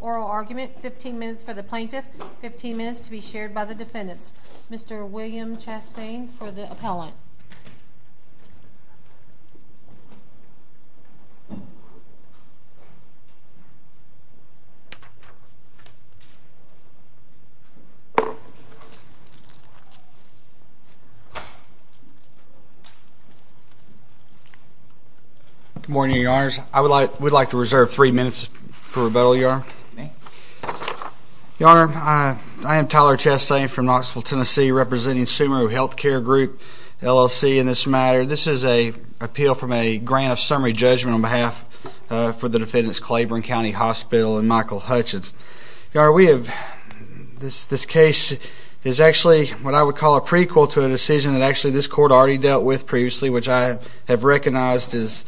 oral argument 15 minutes for the plaintiff, 15 minutes to be shared by the defendants. Mr. William Chastain for the appellant. Good morning, Your Honors. I would like to reserve three minutes for rebuttal, Your Honor. Your Honor, I am Tyler Chastain from Knoxville, Tennessee representing Sumeru Health Care Group LLC in this matter. This is an appeal from a grant of summary judgment on behalf of the defendants, Claiborne County Hospital and Michael Hutchens. Your Honor, we have, this case is actually what I would call a prequel to a decision that actually this court already dealt with previously which I have recognized as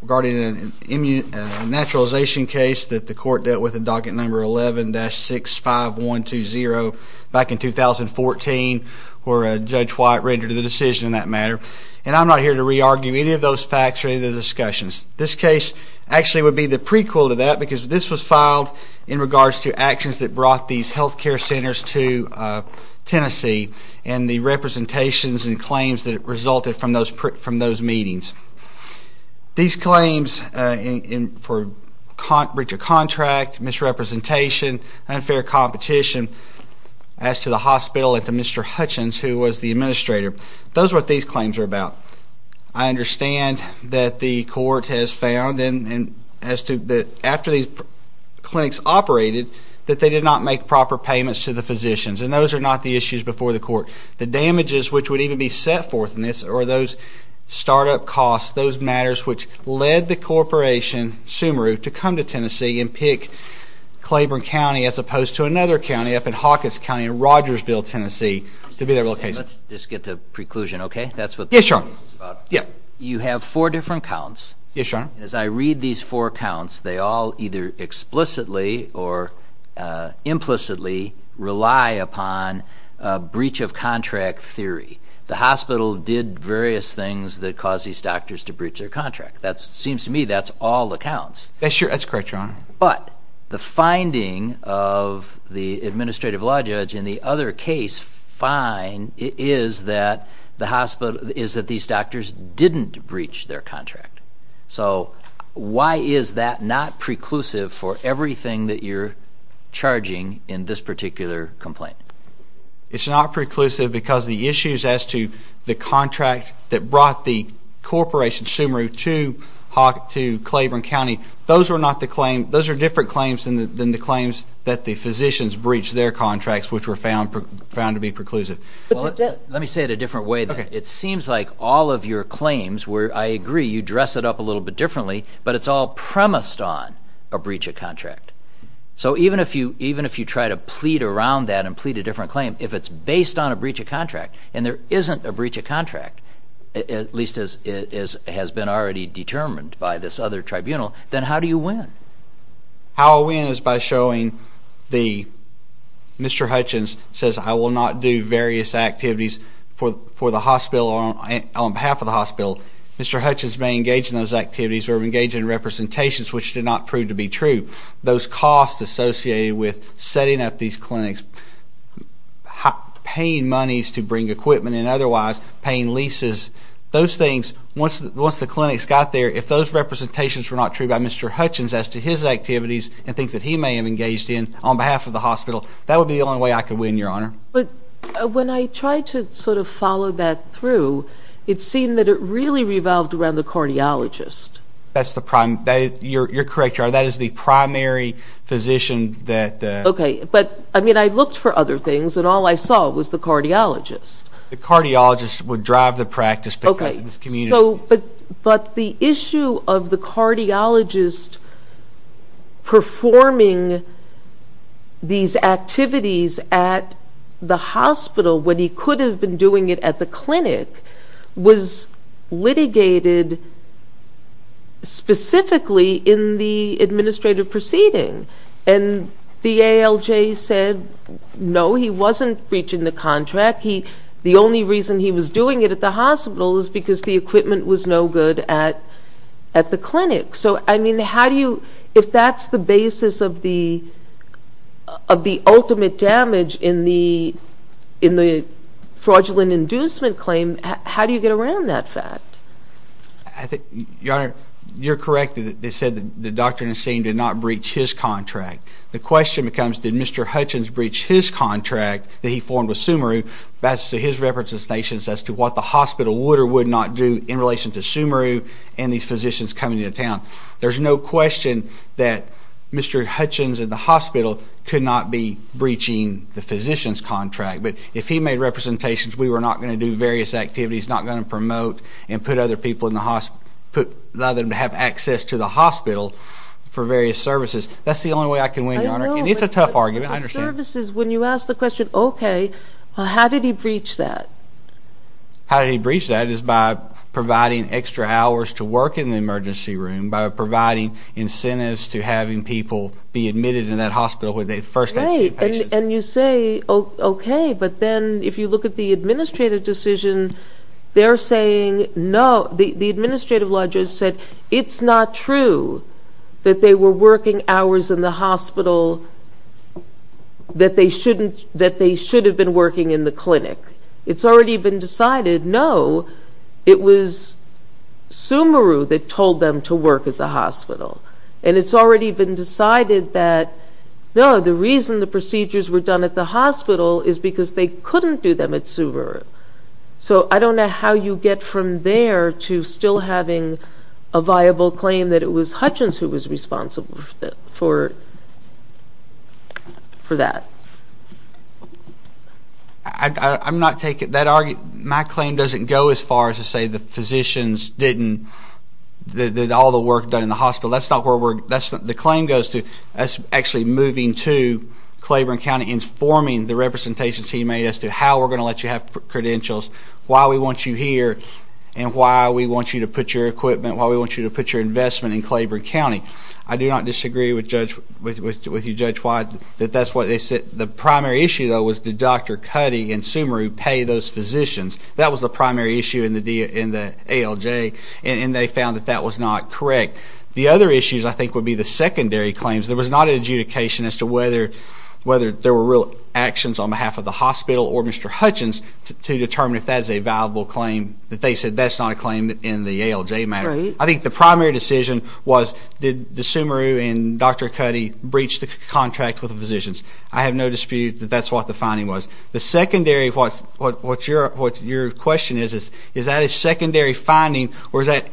regarding an immunization case that the court dealt with in docket number 11-65120 back in 2014 where Judge White rendered the decision in that matter. And I'm not here to re-argue any of those facts or any of the discussions. This case actually would be the prequel to that because this was filed in regards to actions that brought these health care centers to Tennessee and the representations and claims that resulted from those meetings. These claims for breach of contract, misrepresentation, unfair competition as to the hospital and to Mr. Hutchens who was the administrator, those are what these claims are about. I understand that the court has found after these clinics operated that they did not make proper payments to the physicians and those are not the issues before the court. The damages which would even be set forth in this are those startup costs, those matters which led the corporation, Sumeru, to come to Tennessee and pick Claiborne County as opposed to another county up in Hawkins County in Rogersville, Tennessee to be their location. Let's just get to preclusion, okay? That's what this case is about. You have four different counts. As I read these four counts they all either explicitly or implicitly rely upon breach of contract theory. The hospital did various things that caused these doctors to breach their contract. It seems to me that's all the counts. That's correct, Your Honor. But the finding of the administrative law judge in the other case find is that these doctors didn't breach their contract. So why is that not preclusive for everything that you're charging in this particular complaint? It's not preclusive because the issues as to the contract that brought the corporation, Sumeru, to Claiborne County, those are different claims than the claims that the physicians breached their contracts which were found to be preclusive. Let me say it a different way then. It seems like all of your claims, where I agree you dress it up a little bit differently, but it's all premised on a breach of contract. So even if you try to plead around that and plead a different claim, if it's based on a breach of contract and there isn't a breach of contract, at least as has been already determined by this other tribunal, then how do you win? How I win is by showing Mr. Hutchins says I will not do various activities for the hospital or on behalf of the hospital. Mr. Hutchins may engage in those activities or engage in representations which did not prove to be true. Those costs associated with setting up these clinics, paying monies to bring equipment and otherwise, paying leases, those things, once the clinics got there, if those representations were not true by Mr. Hutchins as to his activities and things that he may have engaged in on behalf of the hospital, that would be the only way I could win, Your Honor. But when I tried to sort of follow that through, it seemed that it really revolved around the cardiologist. You're correct, Your Honor. That is the primary physician that... Okay, but I looked for other things and all I saw was the cardiologist. The cardiologist would drive the practice because of this community. But the issue of the cardiologist performing these activities at the hospital when he could have been doing it at the clinic was litigated specifically in the administrative proceeding. And the ALJ said, no, he wasn't breaching the contract. The only reason he was doing it at the hospital was because the equipment was no good at the clinic. So, I mean, how do you, if that's the basis of the ultimate damage in the fraudulent inducement claim, how do you get around that fact? Your Honor, you're correct. They said that Dr. Nassim did not breach his contract. The question becomes, did Mr. Hutchins breach his contract that he formed with Sumeru as to his representations as to what the hospital would or would not do in relation to Sumeru and these physicians coming into town? There's no question that Mr. Hutchins at the hospital could not be breaching the physician's contract. But if he made representations, we were not going to do various activities, not going to promote and put other people in the hospital, allow them to have access to the hospital for various services. That's the only way I can win, Your Honor. And it's a tough argument. I understand. But the services, when you ask the question, okay, how did he breach that? How did he breach that is by providing extra hours to work in the emergency room, by providing incentives to having people be admitted in that hospital where they first had two patients. And you say, okay, but then if you look at the administrative decision, they're saying no. The administrative law judge said it's not true that they were working hours in the hospital that they should have been working in the clinic. It's already been decided, no, it was Sumeru that told them to work at the hospital. And it's already been decided that, no, the reason the procedures were done at the hospital is because they couldn't do them at Sumeru. So I don't know how you get from there to still having a viable claim that it was Hutchins who was responsible for that. My claim doesn't go as far as to say the physicians didn't, all the work done in the hospital. That's not where the claim goes to. That's actually moving to Claiborne County and forming the representations he made as to how we're going to let you have credentials, why we want you here, and why we want you to put your equipment, why we want you to put your investment in Claiborne County. I do not disagree with you, Judge Wyatt, that that's what they said. The primary issue, though, was did Dr. Cuddy and Sumeru pay those physicians? That was the primary issue in the ALJ, and they found that that was not correct. The other issues, I think, would be the secondary claims. There was not an adjudication as to whether there were real actions on behalf of the hospital or Mr. Hutchins to determine if that is a viable claim, that they said that's not a claim in the ALJ matter. I think the primary decision was did Sumeru and Dr. Cuddy breach the contract with the physicians. I have no dispute that that's what the finding was. The secondary, what your question is, is that a secondary finding or is that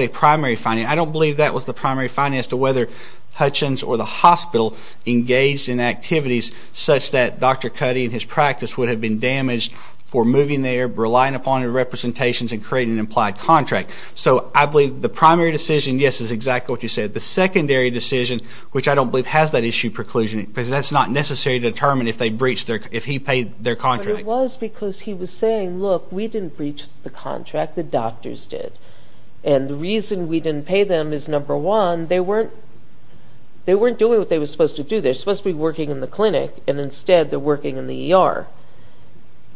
a primary finding? I don't believe that was the primary finding as to whether Hutchins or the hospital engaged in activities such that Dr. Cuddy and his practice would have been damaged for moving there, relying upon the representations, and creating an implied contract. So I believe the primary decision, yes, is exactly what you said. The secondary decision, which I don't believe has that issue preclusion, because that's not necessary to determine if he paid their contract. But it was because he was saying, look, we didn't breach the contract, the doctors did. And the reason we didn't pay them is, number one, they weren't doing what they were supposed to do. They were supposed to be working in the clinic, and instead they're working in the ER.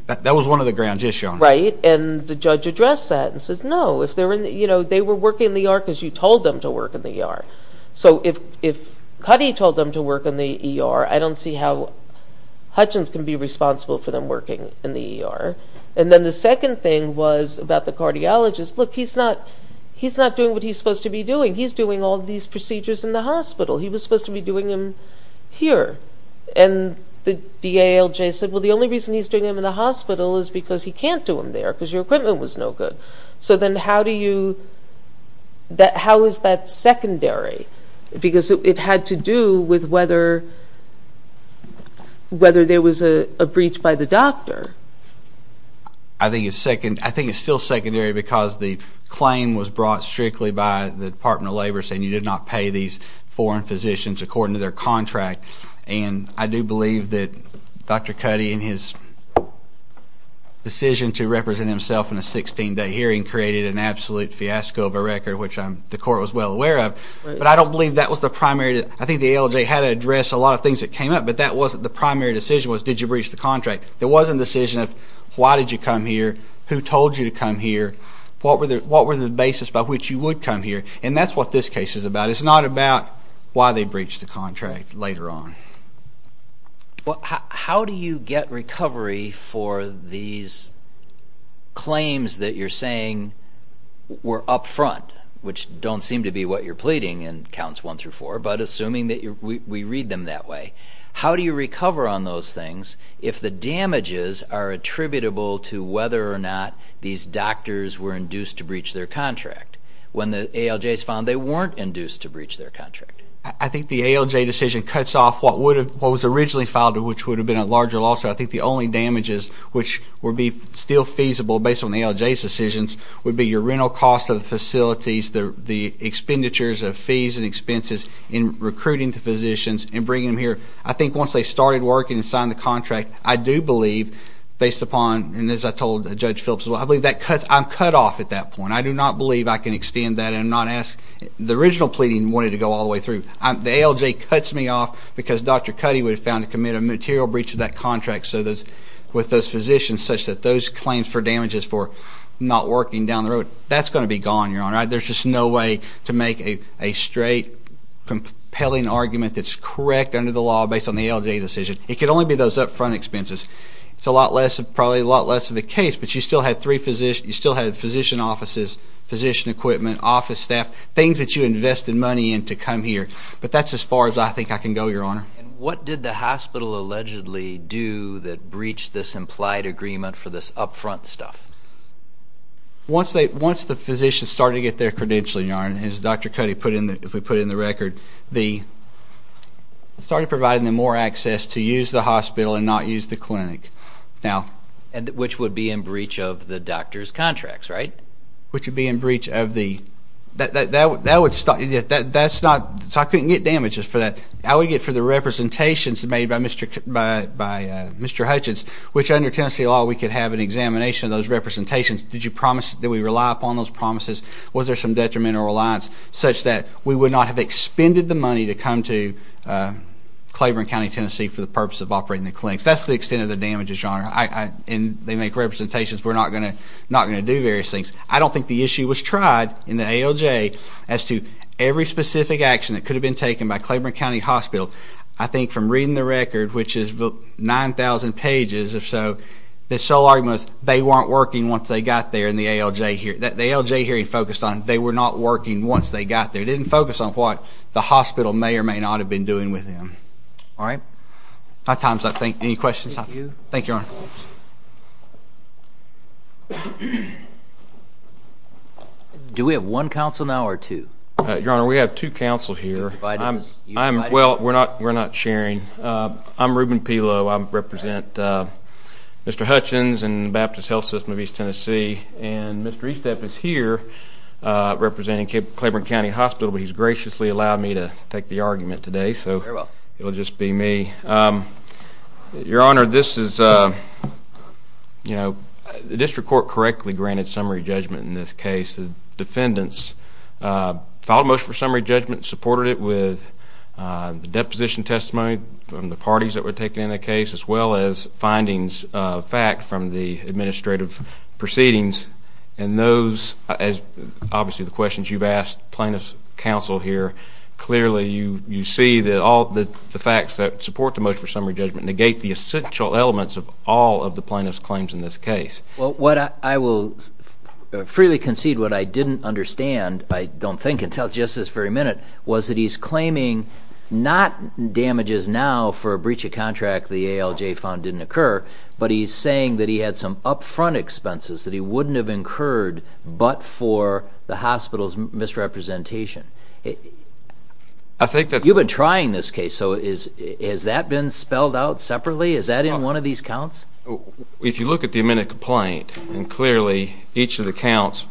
That was one of the grounds, yes, Your Honor. Right, and the judge addressed that and said, no, they were working in the ER because you told them to work in the ER. So if Cuddy told them to work in the ER, I don't see how Hutchins can be responsible for them working in the ER. And then the second thing was about the cardiologist. Look, he's not doing what he's supposed to be doing. He's doing all these procedures in the hospital. He was supposed to be doing them here. And the DALJ said, well, the only reason he's doing them in the hospital is because he can't do them there because your equipment was no good. So then how do you, how is that secondary? Because it had to do with whether there was a breach by the doctor. I think it's still secondary because the claim was brought strictly by the Department of Labor saying you did not pay these foreign physicians according to their contract. And I do believe that Dr. Cuddy in his decision to represent himself in a 16-day hearing created an absolute fiasco of a record, which the court was well aware of. But I don't believe that was the primary. I think the DALJ had to address a lot of things that came up, but the primary decision was did you breach the contract. There was a decision of why did you come here, who told you to come here, what were the basis by which you would come here. And that's what this case is about. It's not about why they breached the contract later on. How do you get recovery for these claims that you're saying were up front, which don't seem to be what you're pleading in counts one through four, but assuming that we read them that way? How do you recover on those things if the damages are attributable to whether or not these doctors were induced to breach their contract? When the ALJs filed, they weren't induced to breach their contract. I think the ALJ decision cuts off what was originally filed, which would have been a larger lawsuit. I think the only damages which would be still feasible based on the ALJ's decisions would be your rental cost of the facilities, the expenditures of fees and expenses in recruiting the physicians and bringing them here. I think once they started working and signed the contract, I do believe, based upon, and as I told Judge Phillips, I believe I'm cut off at that point. I do not believe I can extend that. The original pleading wanted to go all the way through. The ALJ cuts me off because Dr. Cuddy would have found to commit a material breach of that contract with those physicians, such that those claims for damages for not working down the road, that's going to be gone, Your Honor. There's just no way to make a straight, compelling argument that's correct under the law based on the ALJ decision. It could only be those up front expenses. It's probably a lot less of a case, but you still had physician offices, physician equipment, office staff, things that you invested money in to come here. But that's as far as I think I can go, Your Honor. What did the hospital allegedly do that breached this implied agreement for this up front stuff? Once the physicians started to get their credentialing, Your Honor, as Dr. Cuddy put in the record, started providing them more access to use the hospital and not use the clinic. Which would be in breach of the doctor's contracts, right? Which would be in breach of theóthat's notóso I couldn't get damages for that. I would get for the representations made by Mr. Hutchins, which under Tennessee law we could have an examination of those representations. Did you promise that we rely upon those promises? Was there some detriment or reliance such that we would not have expended the money to come to Claiborne County, Tennessee, for the purpose of operating the clinics? That's the extent of the damages, Your Honor. And they make representations we're not going to do various things. I don't think the issue was tried in the ALJ as to every specific action that could have been taken by Claiborne County Hospital. I think from reading the record, which is 9,000 pages or so, the sole argument was they weren't working once they got there. And the ALJ hearing focused on they were not working once they got there. It didn't focus on what the hospital may or may not have been doing with them. All right? My time's up. Any questions? Thank you, Your Honor. Do we have one counsel now or two? Your Honor, we have two counsel here. Well, we're not sharing. I'm Reuben Pelow. I represent Mr. Hutchins and the Baptist Health System of East Tennessee. And Mr. Estep is here representing Claiborne County Hospital, but he's graciously allowed me to take the argument today, so it will just be me. Your Honor, this is, you know, the district court correctly granted summary judgment in this case. The defendants filed a motion for summary judgment and supported it with the deposition testimony from the parties that were taken in the case as well as findings of fact from the administrative proceedings. And those, as obviously the questions you've asked plaintiff's counsel here, clearly you see that all the facts that support the motion for summary judgment negate the essential elements of all of the plaintiff's claims in this case. Well, I will freely concede what I didn't understand, I don't think, until just this very minute, was that he's claiming not damages now for a breach of contract the ALJ found didn't occur, but he's saying that he had some upfront expenses that he wouldn't have incurred but for the hospital's misrepresentation. You've been trying this case, so has that been spelled out separately? Is that in one of these counts? If you look at the amended complaint, and clearly each of the counts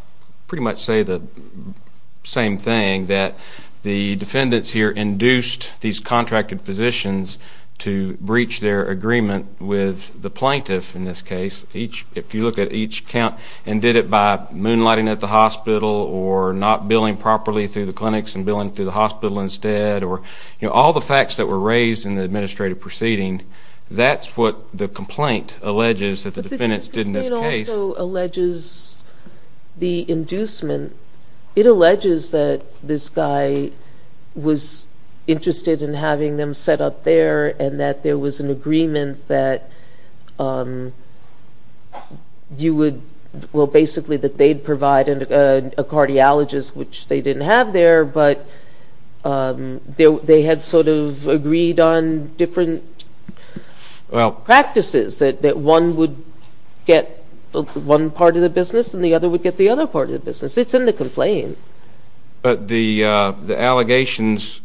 pretty much say the same thing, that the defendants here induced these contracted physicians to breach their agreement with the plaintiff in this case. If you look at each count and did it by moonlighting at the hospital or not billing properly through the clinics and billing through the hospital instead or all the facts that were raised in the administrative proceeding, that's what the complaint alleges that the defendants did in this case. But it also alleges the inducement. It alleges that this guy was interested in having them set up there and that there was an agreement that you would, well, basically, that they'd provide a cardiologist, which they didn't have there, but they had sort of agreed on different practices that one would get one part of the business and the other would get the other part of the business. It's in the complaint. But the allegations,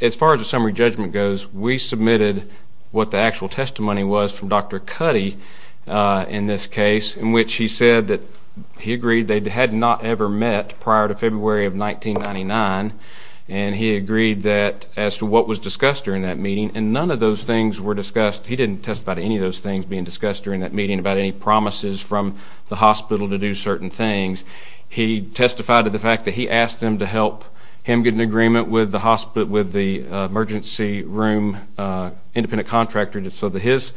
as far as the summary judgment goes, we submitted what the actual testimony was from Dr. Cuddy in this case in which he said that he agreed they had not ever met prior to February of 1999, and he agreed that as to what was discussed during that meeting, and none of those things were discussed. He didn't testify to any of those things being discussed during that meeting about any promises from the hospital to do certain things. He testified to the fact that he asked them to help him get an agreement with the emergency room independent contractor so that his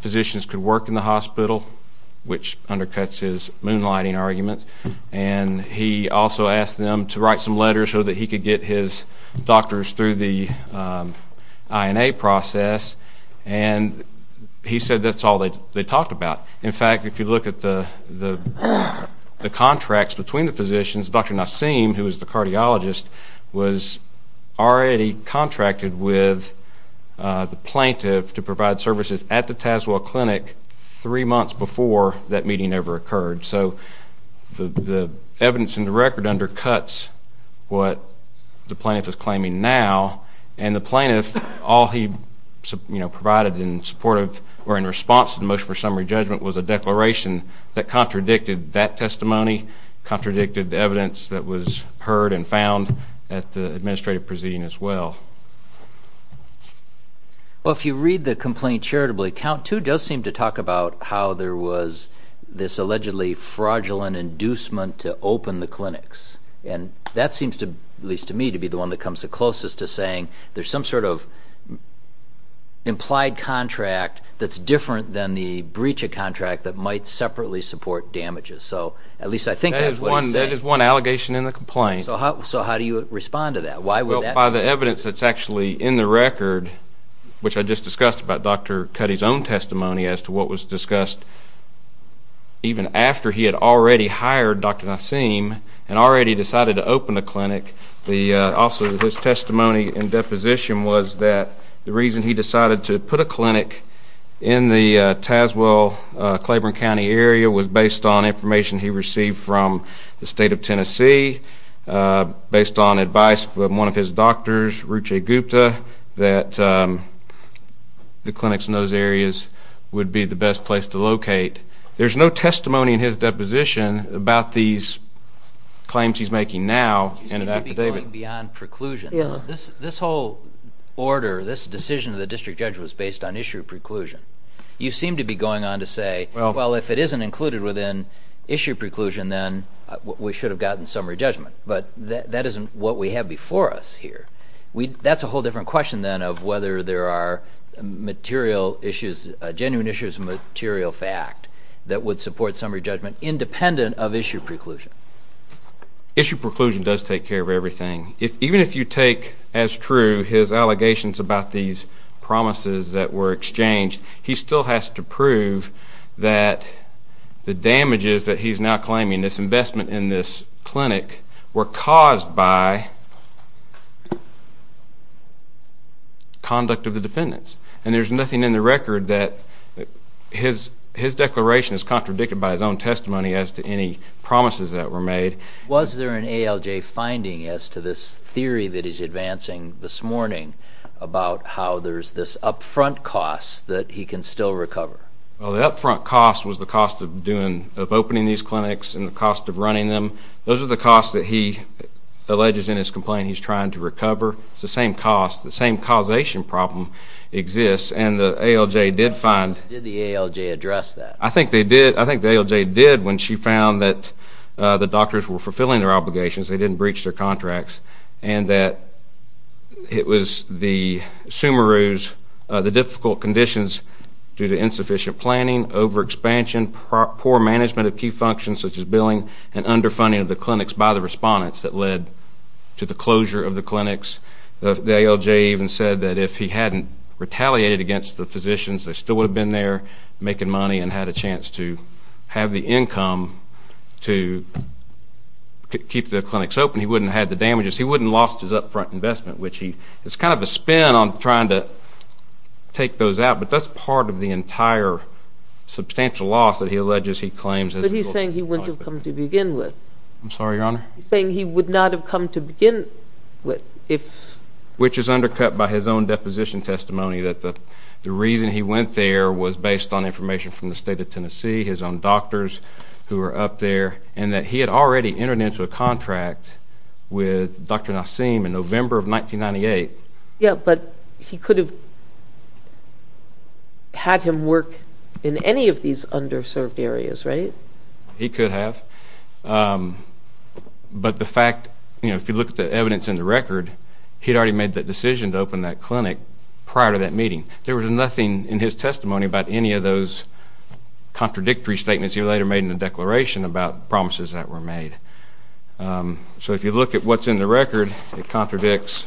physicians could work in the hospital, which undercuts his moonlighting arguments, and he also asked them to write some letters so that he could get his doctors through the INA process, and he said that's all they talked about. In fact, if you look at the contracts between the physicians, Dr. Nassim, who was the cardiologist, was already contracted with the plaintiff to provide services at the Tazewell Clinic three months before that meeting ever occurred. So the evidence in the record undercuts what the plaintiff is claiming now, and the plaintiff, all he provided in response to the motion for summary judgment was a declaration that contradicted that testimony, contradicted the evidence that was heard and found at the administrative proceeding as well. Well, if you read the complaint charitably, count two does seem to talk about how there was this allegedly fraudulent inducement to open the clinics, and that seems, at least to me, to be the one that comes the closest to saying there's some sort of implied contract that's different than the breach of contract that might separately support damages. So at least I think that's what he's saying. That is one allegation in the complaint. So how do you respond to that? Why would that be? Well, by the evidence that's actually in the record, which I just discussed about Dr. Cuddy's own testimony as to what was discussed, even after he had already hired Dr. Nassim and already decided to open the clinic, also his testimony in deposition was that the reason he decided to put a clinic in the Tazewell-Claiborne County area was based on information he received from the state of Tennessee, based on advice from one of his doctors, Ruche Gupta, that the clinics in those areas would be the best place to locate. There's no testimony in his deposition about these claims he's making now in an affidavit. You seem to be going beyond preclusions. This whole order, this decision of the district judge was based on issue of preclusion. You seem to be going on to say, well, if it isn't included within issue of preclusion, then we should have gotten summary judgment. But that isn't what we have before us here. That's a whole different question then of whether there are genuine issues of material fact that would support summary judgment independent of issue of preclusion. Issue of preclusion does take care of everything. Even if you take as true his allegations about these promises that were exchanged, he still has to prove that the damages that he's now claiming, this investment in this clinic, were caused by conduct of the defendants. And there's nothing in the record that his declaration is contradicted by his own testimony as to any promises that were made. Was there an ALJ finding as to this theory that he's advancing this morning about how there's this upfront cost that he can still recover? Well, the upfront cost was the cost of opening these clinics and the cost of running them. Those are the costs that he alleges in his complaint he's trying to recover. It's the same cost. The same causation problem exists, and the ALJ did find... Did the ALJ address that? I think they did. I think the ALJ did when she found that the doctors were fulfilling their obligations, they didn't breach their contracts, and that it was the difficult conditions due to insufficient planning, overexpansion, poor management of key functions such as billing, and underfunding of the clinics by the respondents that led to the closure of the clinics. The ALJ even said that if he hadn't retaliated against the physicians, they still would have been there making money and had a chance to have the income to keep the clinics open. He wouldn't have had the damages. He wouldn't have lost his upfront investment, which he... It's kind of a spin on trying to take those out, but that's part of the entire substantial loss that he alleges he claims... But he's saying he wouldn't have come to begin with. I'm sorry, Your Honor? He's saying he would not have come to begin with if... Which is undercut by his own deposition testimony that the reason he went there was based on information from the state of Tennessee, his own doctors who were up there, and that he had already entered into a contract with Dr. Nassim in November of 1998. Yeah, but he could have had him work in any of these underserved areas, right? He could have. But the fact... If you look at the evidence in the record, he had already made the decision to open that clinic prior to that meeting. There was nothing in his testimony about any of those contradictory statements he later made in the declaration about promises that were made. So if you look at what's in the record, it contradicts...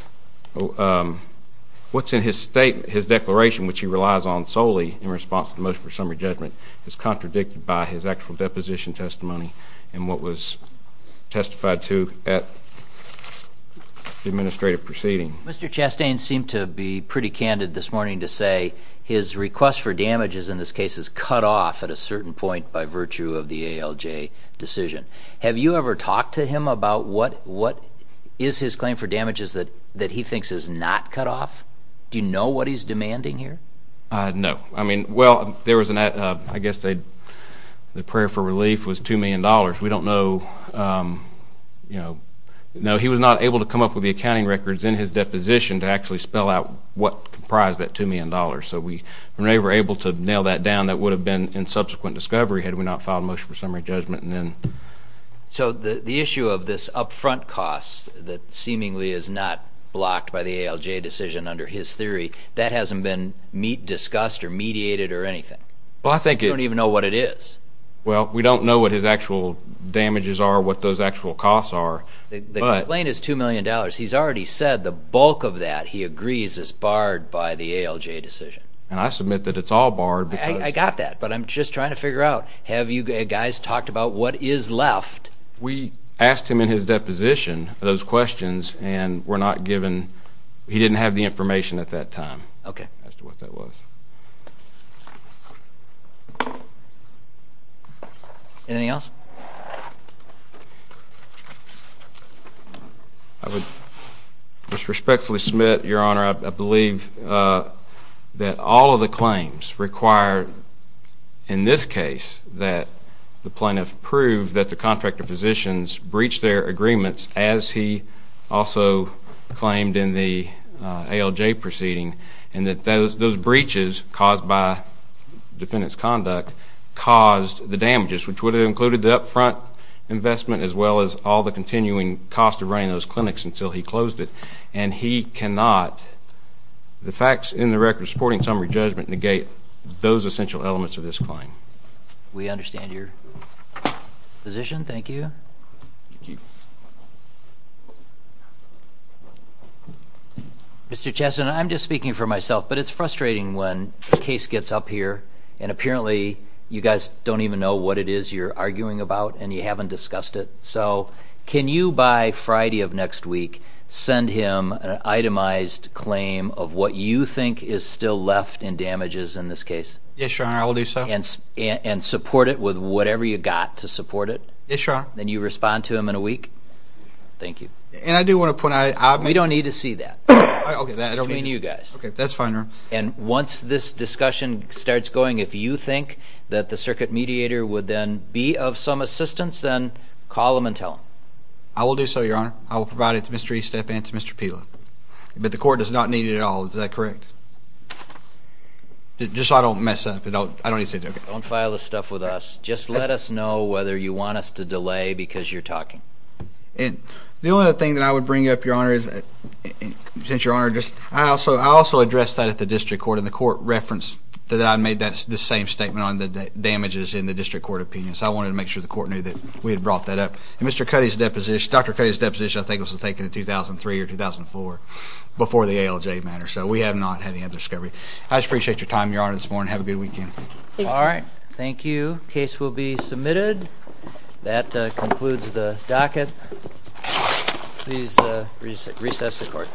What's in his statement, his declaration, which he relies on solely in response to the motion for summary judgment, is contradicted by his actual deposition testimony and what was testified to at the administrative proceeding. Mr. Chastain seemed to be pretty candid this morning to say his request for damages in this case is cut off at a certain point by virtue of the ALJ decision. Have you ever talked to him about what is his claim for damages that he thinks is not cut off? Do you know what he's demanding here? No. Well, I guess the prayer for relief was $2 million. We don't know... No, he was not able to come up with the accounting records in his deposition to actually spell out what comprised that $2 million. So we were never able to nail that down. That would have been in subsequent discovery had we not filed a motion for summary judgment. So the issue of this upfront cost that seemingly is not blocked by the ALJ decision under his theory, that hasn't been discussed or mediated or anything. We don't even know what it is. Well, we don't know what his actual damages are, what those actual costs are. The complaint is $2 million. He's already said the bulk of that, he agrees, is barred by the ALJ decision. And I submit that it's all barred because... I got that, but I'm just trying to figure out, have you guys talked about what is left? We asked him in his deposition those questions, and we're not given...he didn't have the information at that time as to what that was. Anything else? I would just respectfully submit, Your Honor, I believe that all of the claims require, in this case, that the plaintiff prove that the contractor physicians breached their agreements as he also claimed in the ALJ proceeding, and that those breaches caused by defendant's conduct caused the damages, which would have included the upfront investment as well as all the continuing cost of running those clinics until he closed it. And he cannot, the facts in the record supporting summary judgment, negate those essential elements of this claim. We understand your position. Thank you. Mr. Chesson, I'm just speaking for myself, but it's frustrating when the case gets up here and apparently you guys don't even know what it is you're arguing about and you haven't discussed it. So can you, by Friday of next week, send him an itemized claim of what you think is still left in damages in this case? Yes, Your Honor, I will do so. And support it with whatever you've got to support it? Yes, Your Honor. Then you respond to him in a week? Thank you. And I do want to point out... We don't need to see that between you guys. That's fine, Your Honor. And once this discussion starts going, if you think that the circuit mediator would then be of some assistance, then call him and tell him. I will do so, Your Honor. I will provide it to Mr. Estep and to Mr. Pila. But the court does not need it at all, is that correct? Just so I don't mess up. I don't need to say anything. Don't file this stuff with us. Just let us know whether you want us to delay because you're talking. The only other thing that I would bring up, Your Honor, is I also addressed that at the district court and the court referenced that I made the same statement on the damages in the district court opinion. So I wanted to make sure the court knew that we had brought that up. And Dr. Cuddy's deposition, I think, was taken in 2003 or 2004 before the ALJ matter. So we have not had any other discovery. I just appreciate your time, Your Honor, this morning. Have a good weekend. Thank you. All right. Thank you. Case will be submitted. That concludes the docket. Please recess the court.